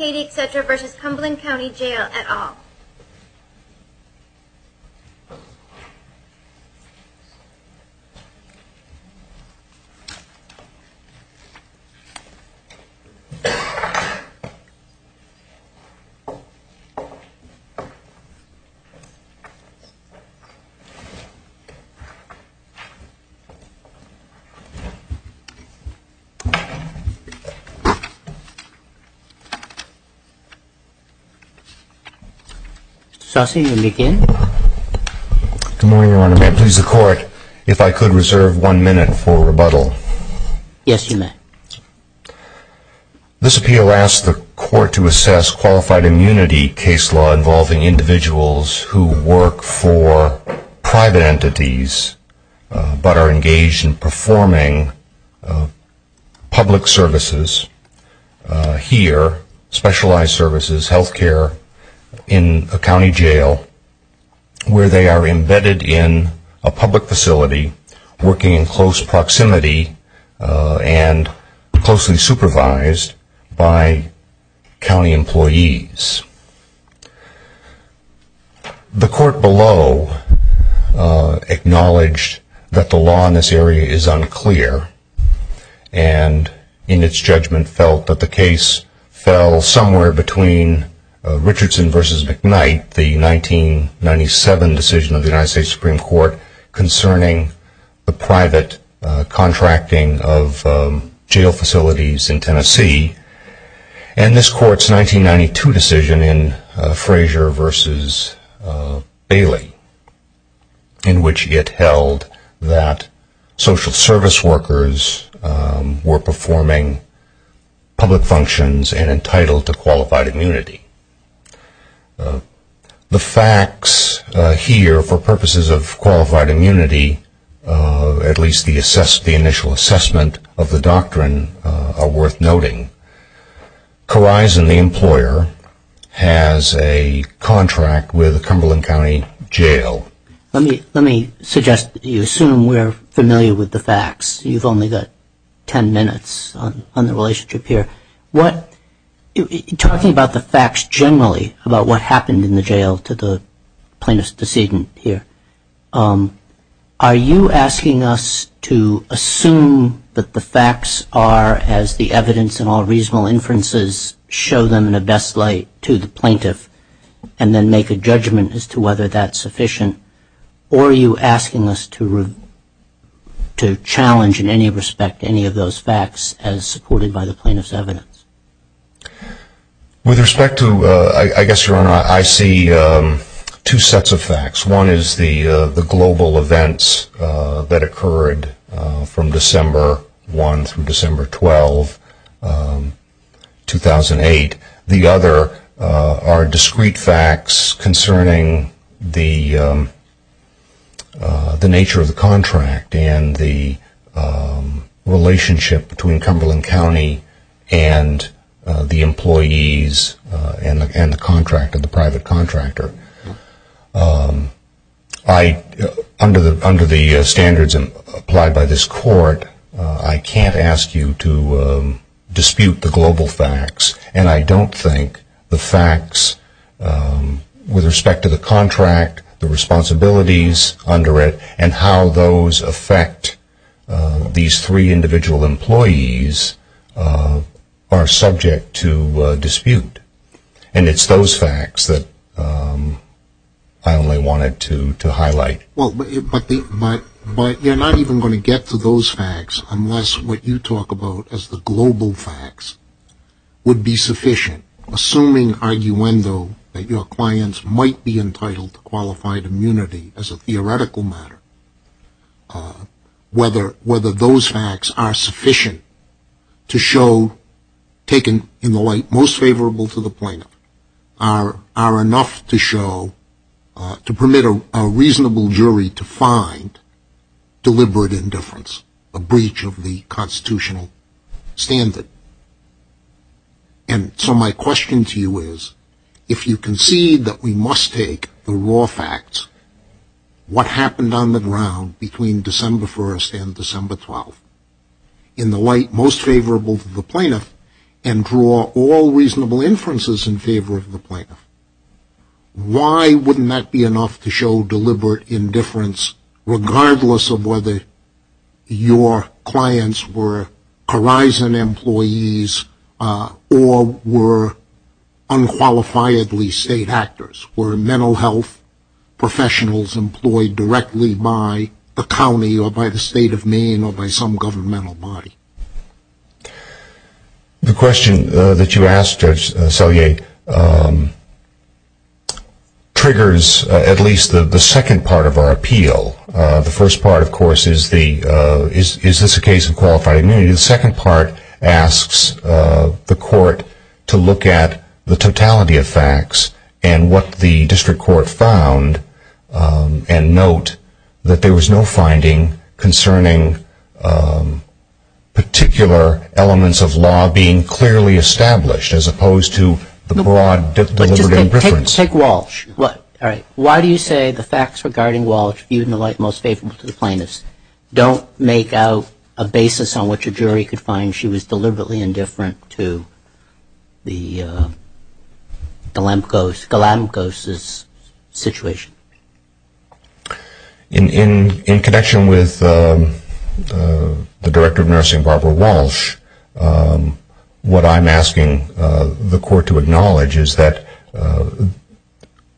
at all. This appeal asks the court to assess qualified immunity case law involving individuals who are specialized services, health care, in a county jail where they are embedded in a public facility working in close proximity and closely supervised by county employees. The court below acknowledged that the law in this area is unclear and in its judgment felt that the case fell somewhere between Richardson v. McKnight, the 1997 decision of the United States Supreme Court concerning the private contracting of jail facilities in Tennessee, and this court's 1992 decision in Frazier v. Bailey, in which it held that social service workers were performing public functions and entitled to qualified immunity. The facts here for purposes of qualified immunity, at least the initial assessment of the doctrine, are worth noting. Corison, the employer, has a contract with Cumberland County Jail. Let me suggest that you assume we're familiar with the facts. You've only got 10 minutes on the relationship here. Talking about the facts generally, about what happened in the jail to the plaintiff's decedent here, are you asking us to assume that the facts are as the evidence and all reasonable inferences show them in the best light to the plaintiff and then make a judgment as to whether that's sufficient, or are you asking us to challenge in any respect any of those facts as supported by the plaintiff's evidence? With respect to, I guess Your Honor, I see two sets of facts. One is the global events that occurred from December 1 through December 12, 2008. The other are discrete facts concerning the nature of the contract and the relationship between Cumberland County and the employees and the private contractor. Under the standards applied by this court, I can't ask you to dispute the global facts, and I don't think the facts with respect to the contract, the responsibilities under it, and how those affect these three individual employees are subject to dispute. And it's those facts that I only wanted to highlight. But you're not even going to get to those facts unless what you talk about as the global facts would be sufficient. Assuming, arguendo, that your clients might be entitled to qualified immunity as a theoretical matter, whether those facts are sufficient to show, taken in the light most favorable to the plaintiff, are enough to show, to permit a reasonable jury to find deliberate indifference, a breach of the constitutional standard. And so my question to you is, if you concede that we must take the raw facts, what happened on the ground between December 1 and December 12, in the light most favorable to the plaintiff, and draw all reasonable inferences in favor of the plaintiff, why wouldn't that be enough to show deliberate indifference, regardless of whether your clients were Horizon employees or were unqualifiedly state actors? Were mental health professionals employed directly by the county or by the state of Maine or by some governmental body? The question that you asked, Judge Selye, triggers at least the second part of our appeal. The first part, of course, is the, is this a case of qualified immunity? The second part asks the court to look at the totality of facts and what the district court found, and note that there was no finding concerning particular elements of law being clearly established, as opposed to the broad deliberate indifference. Let's take Walsh. All right. Why do you say the facts regarding Walsh, viewed in the light most favorable to the plaintiff's, don't make out a basis on which a jury could find she was deliberately indifferent to the Glamkos' situation? In connection with the Director of Nursing, Barbara Walsh, what I'm asking the court to acknowledge is that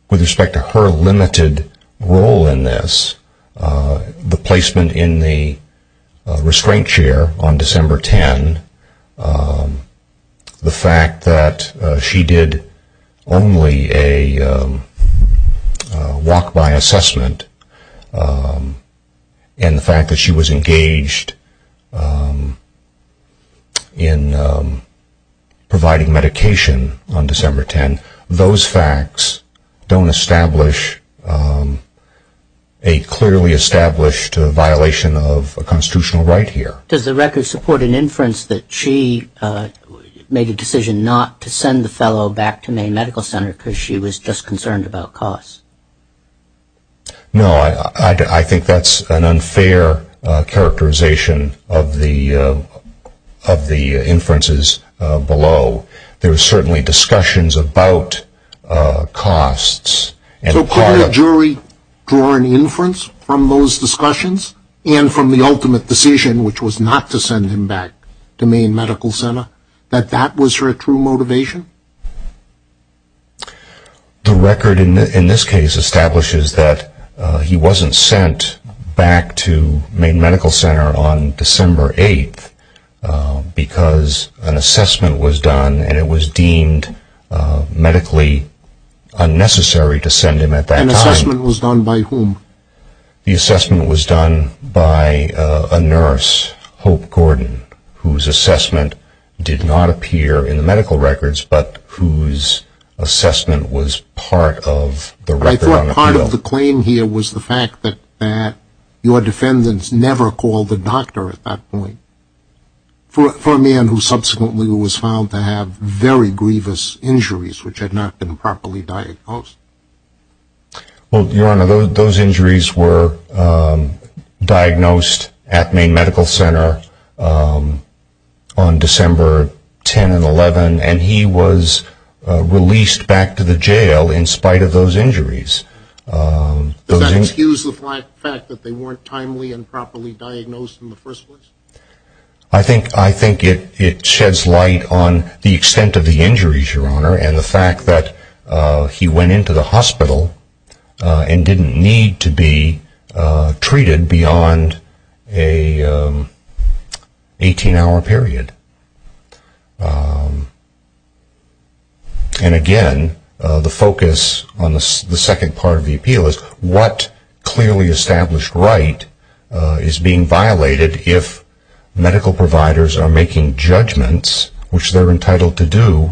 with respect to her limited role in this, the placement in the restraint chair on December 10, the fact that she did only a walk-by assessment, and the fact that she was engaged in providing medication on December 10, those facts don't establish a clearly established violation of a constitutional right here. Does the record support an inference that she made a decision not to send the fellow back to Maine Medical Center because she was just concerned about costs? No, I think that's an unfair characterization of the inferences below. So could a jury draw an inference from those discussions and from the ultimate decision, which was not to send him back to Maine Medical Center, that that was her true motivation? The record in this case establishes that he wasn't sent back to Maine Medical Center on December 8 because an assessment was done and it was deemed medically unnecessary to send him at that time. An assessment was done by whom? The assessment was done by a nurse, Hope Gordon, whose assessment did not appear in the medical records, but whose assessment was part of the record. I thought part of the claim here was the fact that your defendants never called the doctor at that point, for a man who subsequently was found to have very grievous injuries which had not been properly diagnosed. Your Honor, those injuries were diagnosed at Maine Medical Center on December 10 and 11, and he was released back to the jail in spite of those injuries. Does that excuse the fact that they weren't timely and properly diagnosed in the first place? I think it sheds light on the extent of the injuries, Your Honor, and the fact that he went into the hospital and didn't need to be treated beyond an 18-hour period. And again, the focus on the second part of the appeal is what clearly established right is being violated if medical providers are making judgments which they're entitled to do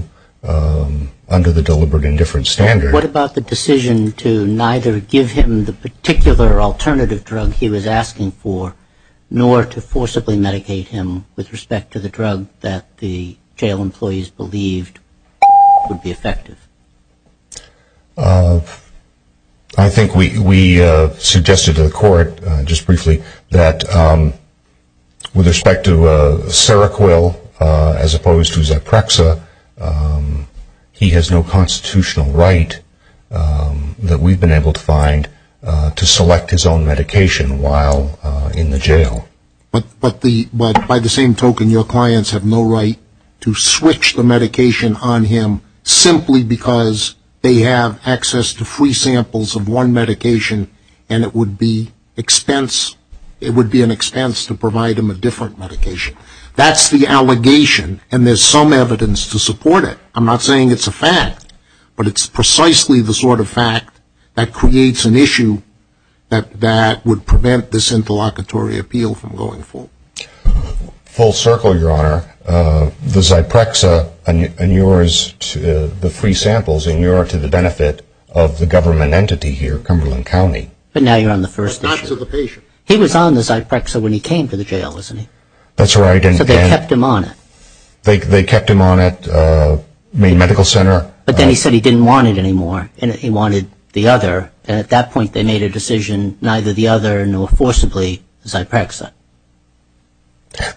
under the deliberate indifference standard? What about the decision to neither give him the particular alternative drug he was asking for, nor to forcibly medicate him with respect to the drug that the jail employees believed would be effective? I think we suggested to the court just briefly that with respect to Seroquel as opposed to Zeprexa, he has no constitutional right that we've been able to find to select his own medication while in the jail. But by the same token, your clients have no right to switch the medication on him simply because they have access to free samples of one medication and it would be an expense to provide him a different medication. That's the allegation, and there's some evidence to support it. I'm not saying it's a fact, but it's precisely the sort of fact that creates an issue that would prevent this interlocutory appeal from going forward. Full circle, Your Honor, the Zeprexa and yours, the free samples, and yours to the benefit of the government entity here, Cumberland County. But now you're on the first issue. But not to the patient. He was on the Zeprexa when he came to the jail, wasn't he? That's right. So they kept him on it. They kept him on it. I mean, medical center. But then he said he didn't want it anymore and he wanted the other. And at that point they made a decision, neither the other nor forcibly Zeprexa.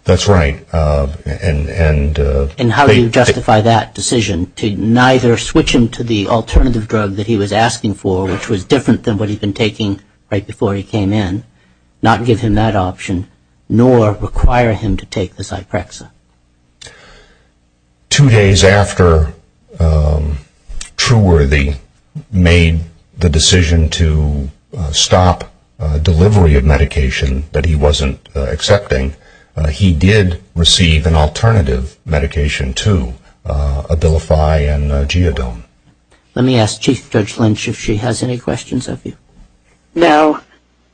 That's right. And how do you justify that decision to neither switch him to the alternative drug that he was asking for, which was different than what he'd been taking right before he came in, not give him that option, nor require him to take the Zeprexa? Two days after Trueworthy made the decision to stop delivery of medication that he wasn't accepting, he did receive an alternative medication, too, Abilify and Geodone. Let me ask Chief Judge Lynch if she has any questions of you. No.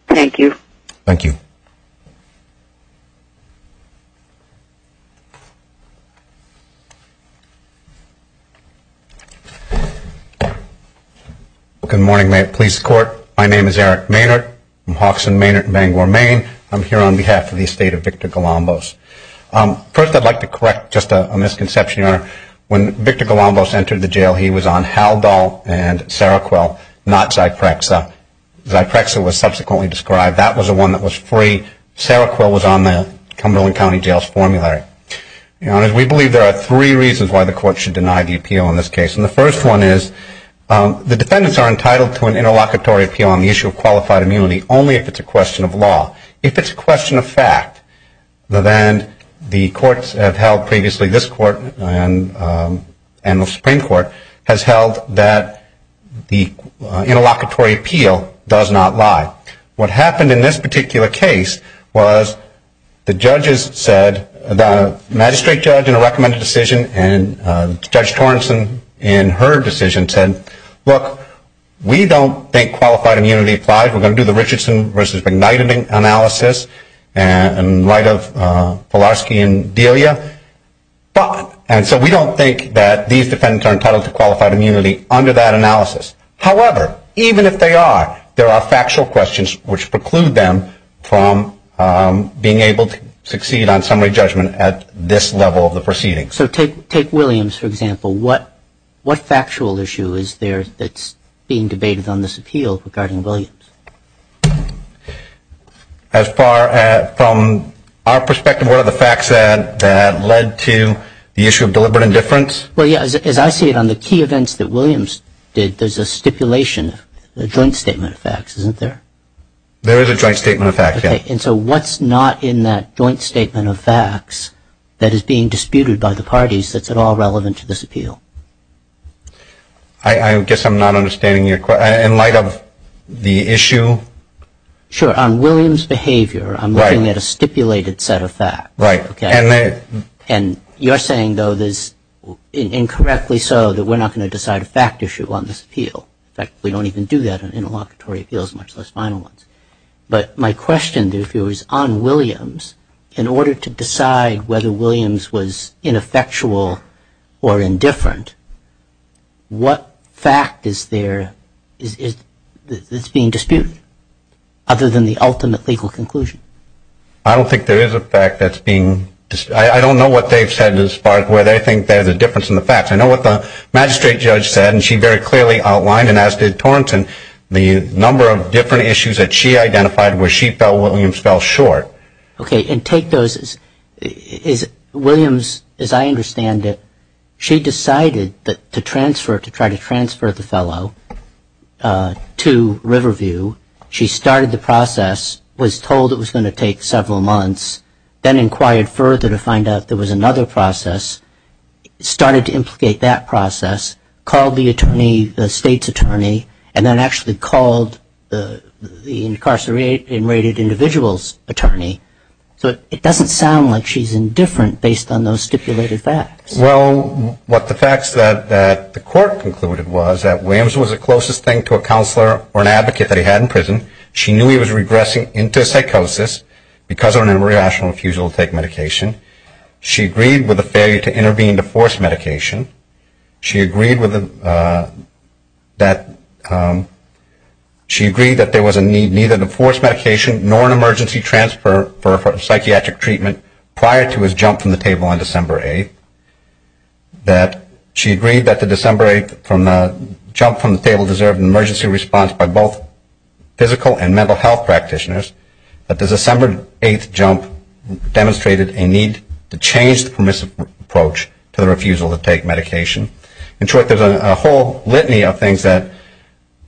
Thank you. Thank you. Good morning, police court. My name is Eric Maynard. I'm Hawkson, Maynard in Bangor, Maine. I'm here on behalf of the estate of Victor Galambos. First, I'd like to correct just a misconception, Your Honor. When Victor Galambos entered the jail, he was on Haldol and Seroquel, not Zeprexa. Zeprexa was subsequently described. That was the one that was free. Seroquel was on the Cumberland County Jail's formulary. Your Honor, we believe there are three reasons why the court should deny the appeal in this case. And the first one is the defendants are entitled to an interlocutory appeal on the issue of qualified immunity only if it's a question of law. If it's a question of fact, then the courts have held previously, this court and the Supreme Court, has held that the interlocutory appeal does not lie. What happened in this particular case was the magistrate judge in a recommended decision and Judge Torrenson in her decision said, look, we don't think qualified immunity applies. We're going to do the Richardson v. McNight analysis in light of Palarski and Delia. And so we don't think that these defendants are entitled to qualified immunity under that analysis. However, even if they are, there are factual questions which preclude them from being able to succeed on summary judgment at this level of the proceeding. So take Williams, for example. What factual issue is there that's being debated on this appeal regarding Williams? As far as from our perspective, what are the facts that led to the issue of deliberate indifference? Well, yeah, as I see it on the key events that Williams did, there's a stipulation, a joint statement of facts, isn't there? There is a joint statement of facts, yeah. Okay. And so what's not in that joint statement of facts that is being disputed by the parties that's at all relevant to this appeal? I guess I'm not understanding your question. In light of the issue? Sure. On Williams' behavior, I'm looking at a stipulated set of facts. Right. And you're saying, though, there's incorrectly so that we're not going to decide a fact issue on this appeal. In fact, we don't even do that on interlocutory appeals, much less final ones. But my question, if it was on Williams, in order to decide whether Williams was ineffectual or indifferent, what fact is there that's being disputed other than the ultimate legal conclusion? I don't think there is a fact that's being disputed. I don't know what they've said as far as whether they think there's a difference in the facts. I know what the magistrate judge said, and she very clearly outlined, the number of different issues that she identified where she felt Williams fell short. Okay. And take those. Williams, as I understand it, she decided to transfer, to try to transfer the fellow to Riverview. She started the process, was told it was going to take several months, then inquired further to find out there was another process, started to implicate that process, called the attorney, the state's attorney, and then actually called the incarcerated individual's attorney. So it doesn't sound like she's indifferent based on those stipulated facts. Well, what the facts that the court concluded was that Williams was the closest thing to a counselor or an advocate that he had in prison. She knew he was regressing into psychosis because of an irrational refusal to take medication. She agreed with the failure to intervene to force medication. She agreed that there was a need neither to force medication nor an emergency transfer for psychiatric treatment prior to his jump from the table on December 8th. She agreed that the December 8th jump from the table deserved an emergency response by both physical and mental health practitioners, that the December 8th jump demonstrated a need to change the permissive approach to the refusal to take medication. In short, there's a whole litany of things that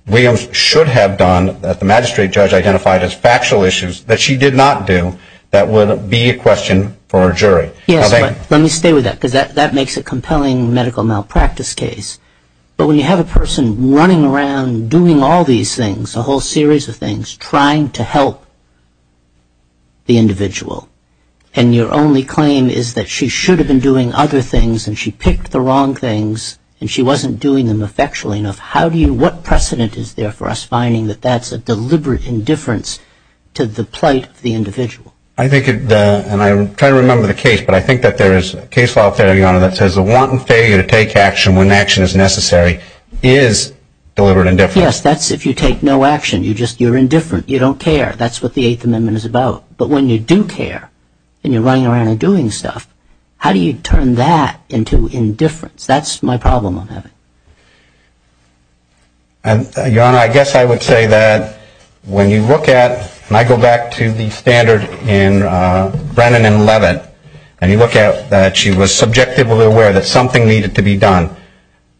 Williams should have done that the magistrate judge identified as factual issues that she did not do that would be a question for a jury. Yes, but let me stay with that because that makes a compelling medical malpractice case. But when you have a person running around doing all these things, a whole series of things, trying to help the individual, and your only claim is that she should have been doing other things and she picked the wrong things and she wasn't doing them effectually enough, what precedent is there for us finding that that's a deliberate indifference to the plight of the individual? I think, and I'm trying to remember the case, but I think that there is a case law theory, Your Honor, that says a wanton failure to take action when action is necessary is deliberate indifference. Yes, that's if you take no action. You're indifferent. You don't care. That's what the Eighth Amendment is about. But when you do care and you're running around and doing stuff, how do you turn that into indifference? That's my problem on that. Your Honor, I guess I would say that when you look at, and I go back to the standard in Brennan and Leavitt, and you look at that she was subjectively aware that something needed to be done,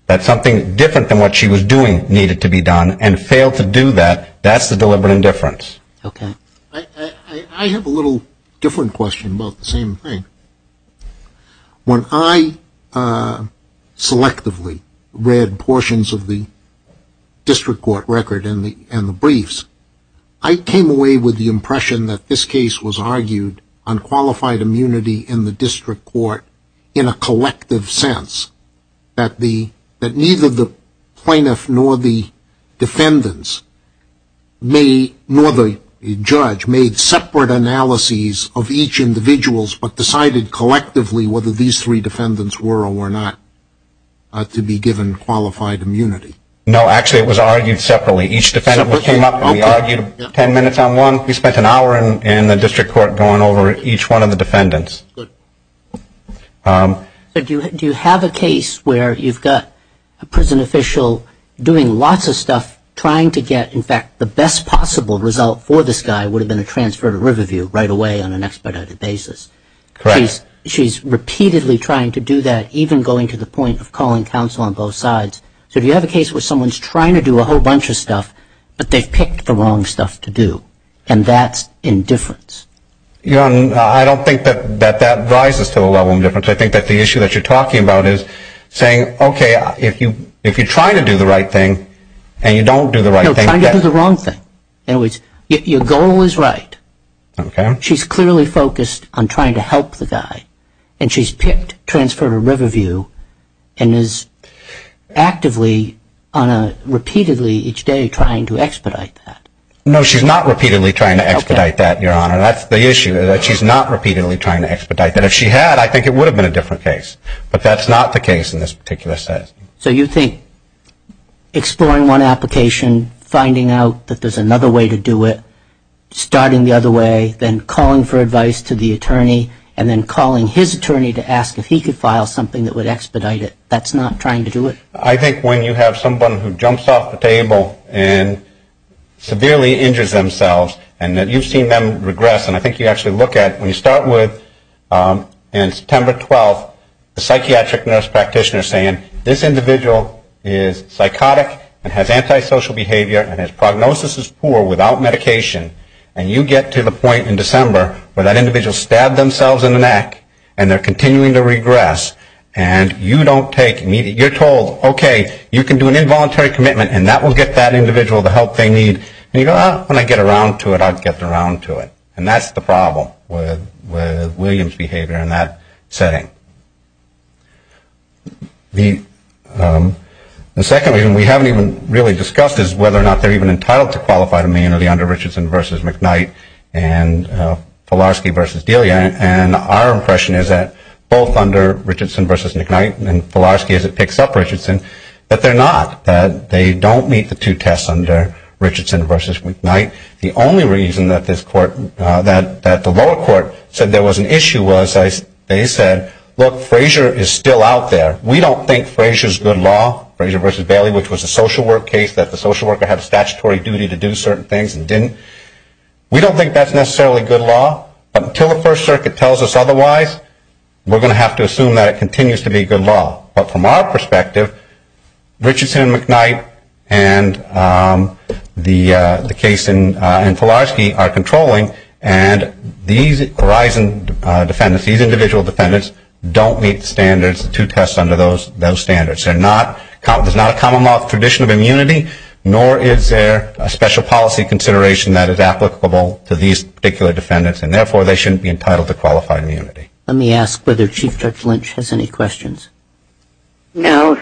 that something different than what she was doing needed to be done, and failed to do that, that's the deliberate indifference. Okay. I have a little different question about the same thing. When I selectively read portions of the district court record and the briefs, I came away with the impression that this case was argued on qualified immunity in the district court in a collective sense, that neither the plaintiff nor the defendants, nor the judge, made separate analyses of each individual but decided collectively whether these three defendants were or were not to be given qualified immunity. No, actually it was argued separately. Each defendant came up and we argued ten minutes on one. We spent an hour in the district court going over each one of the defendants. Do you have a case where you've got a prison official doing lots of stuff trying to get, in fact, the best possible result for this guy would have been a transfer to Riverview right away on an expedited basis? Correct. She's repeatedly trying to do that, even going to the point of calling counsel on both sides. So do you have a case where someone's trying to do a whole bunch of stuff, but they've picked the wrong stuff to do, and that's indifference? I don't think that that rises to the level of indifference. I think that the issue that you're talking about is saying, okay, if you're trying to do the right thing and you don't do the right thing. No, trying to do the wrong thing. Your goal is right. Okay. She's clearly focused on trying to help the guy, and she's picked transfer to Riverview and is actively on a repeatedly each day trying to expedite that. No, she's not repeatedly trying to expedite that, Your Honor. That's the issue, that she's not repeatedly trying to expedite that. If she had, I think it would have been a different case. But that's not the case in this particular case. So you think exploring one application, finding out that there's another way to do it, starting the other way, then calling for advice to the attorney, and then calling his attorney to ask if he could file something that would expedite it. That's not trying to do it. I think when you have someone who jumps off the table and severely injures themselves, and that you've seen them regress, and I think you actually look at, when you start with September 12, the psychiatric nurse practitioner saying, this individual is psychotic and has antisocial behavior and his prognosis is poor without medication, and you get to the point in December where that individual stabbed themselves in the neck and they're continuing to regress, and you don't take immediate, you're told, okay, you can do an involuntary commitment and that will get that individual the help they need. And you go, when I get around to it, I'll get around to it. And that's the problem with Williams' behavior in that setting. The second reason we haven't even really discussed is whether or not they're even entitled to qualify under Richardson v. McKnight and Falarsky v. Delia. And our impression is that both under Richardson v. McKnight, and Falarsky as it picks up Richardson, that they're not, that they don't meet the two tests under Richardson v. McKnight. The only reason that the lower court said there was an issue was they said, look, Frazier is still out there. We don't think Frazier's good law, Frazier v. Bailey, which was a social work case, that the social worker had a statutory duty to do certain things and didn't. We don't think that's necessarily good law. But until the First Circuit tells us otherwise, we're going to have to assume that it continues to be good law. But from our perspective, Richardson v. McKnight and the case in Falarsky are controlling, and these horizon defendants, these individual defendants, don't meet the standards, the two tests under those standards. There's not a common law tradition of immunity, nor is there a special policy consideration that is applicable to these particular defendants, and therefore they shouldn't be entitled to qualified immunity. Let me ask whether Chief Judge Lynch has any questions. No.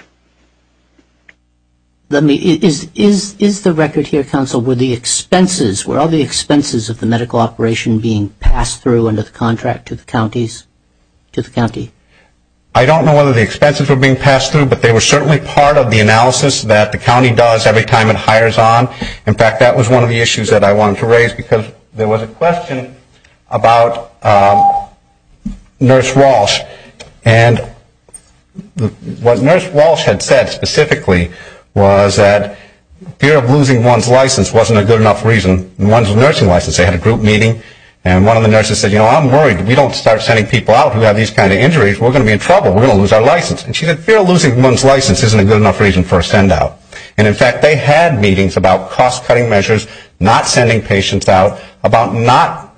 Is the record here, counsel, were the expenses, were all the expenses of the medical operation being passed through under the contract to the counties, to the county? I don't know whether the expenses were being passed through, but they were certainly part of the analysis that the county does every time it hires on. In fact, that was one of the issues that I wanted to raise because there was a question about Nurse Walsh, and what Nurse Walsh had said specifically was that fear of losing one's license wasn't a good enough reason. One's nursing license, they had a group meeting, and one of the nurses said, you know, I'm worried if we don't start sending people out who have these kind of injuries, we're going to be in trouble. We're going to lose our license. And she said, fear of losing one's license isn't a good enough reason for a send-out. And, in fact, they had meetings about cost-cutting measures, not sending patients out, about not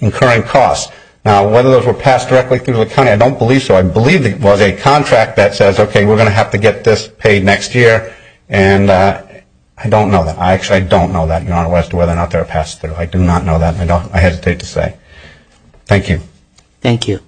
incurring costs. Now, whether those were passed directly through the county, I don't believe so. I believe it was a contract that says, okay, we're going to have to get this paid next year, and I don't know that. I actually don't know that, Your Honor, as to whether or not they were passed through. I do not know that, and I hesitate to say. Thank you. Thank you.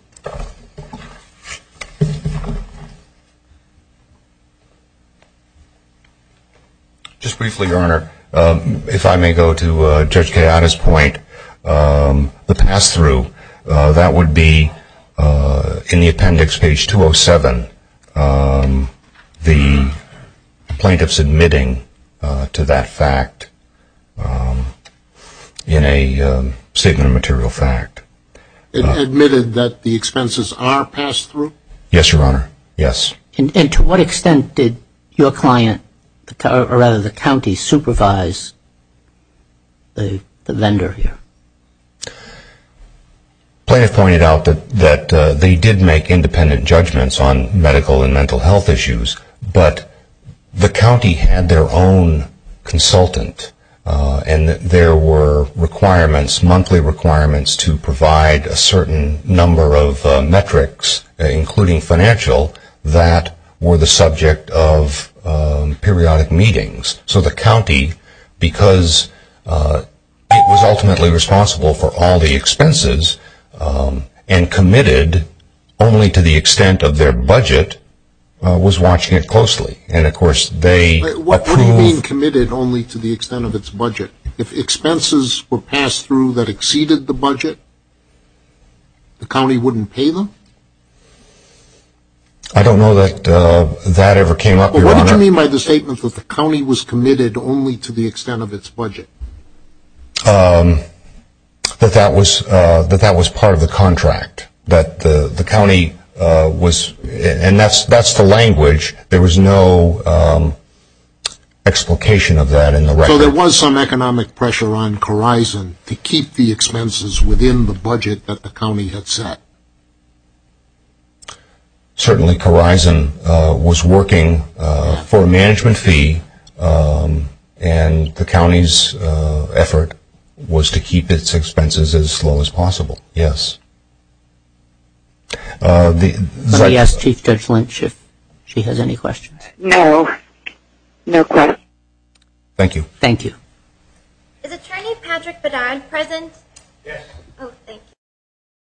Just briefly, Your Honor, if I may go to Judge Kayada's point, the pass-through, that would be in the appendix, page 207, the plaintiff submitting to that fact in a statement of material fact. It admitted that the expenses are passed through? Yes, Your Honor. Yes. And to what extent did your client, or rather the county, supervise the vendor here? The plaintiff pointed out that they did make independent judgments on medical and mental health issues, but the county had their own consultant, and there were requirements, monthly requirements, to provide a certain number of metrics, including financial, that were the subject of periodic meetings. So the county, because it was ultimately responsible for all the expenses and committed only to the extent of their budget, was watching it closely. And, of course, they approved? What do you mean committed only to the extent of its budget? If expenses were passed through that exceeded the budget, the county wouldn't pay them? I don't know that that ever came up, Your Honor. What did you mean by the statement that the county was committed only to the extent of its budget? That that was part of the contract, that the county was, and that's the language. There was no explication of that in the record. So there was some economic pressure on Corizon to keep the expenses within the budget that the county had set? Certainly, Corizon was working for a management fee, and the county's effort was to keep its expenses as low as possible, yes. Let me ask Chief Judge Lynch if she has any questions. No, no questions. Thank you. Thank you. Is Attorney Patrick Bedard present? Yes. Thank you.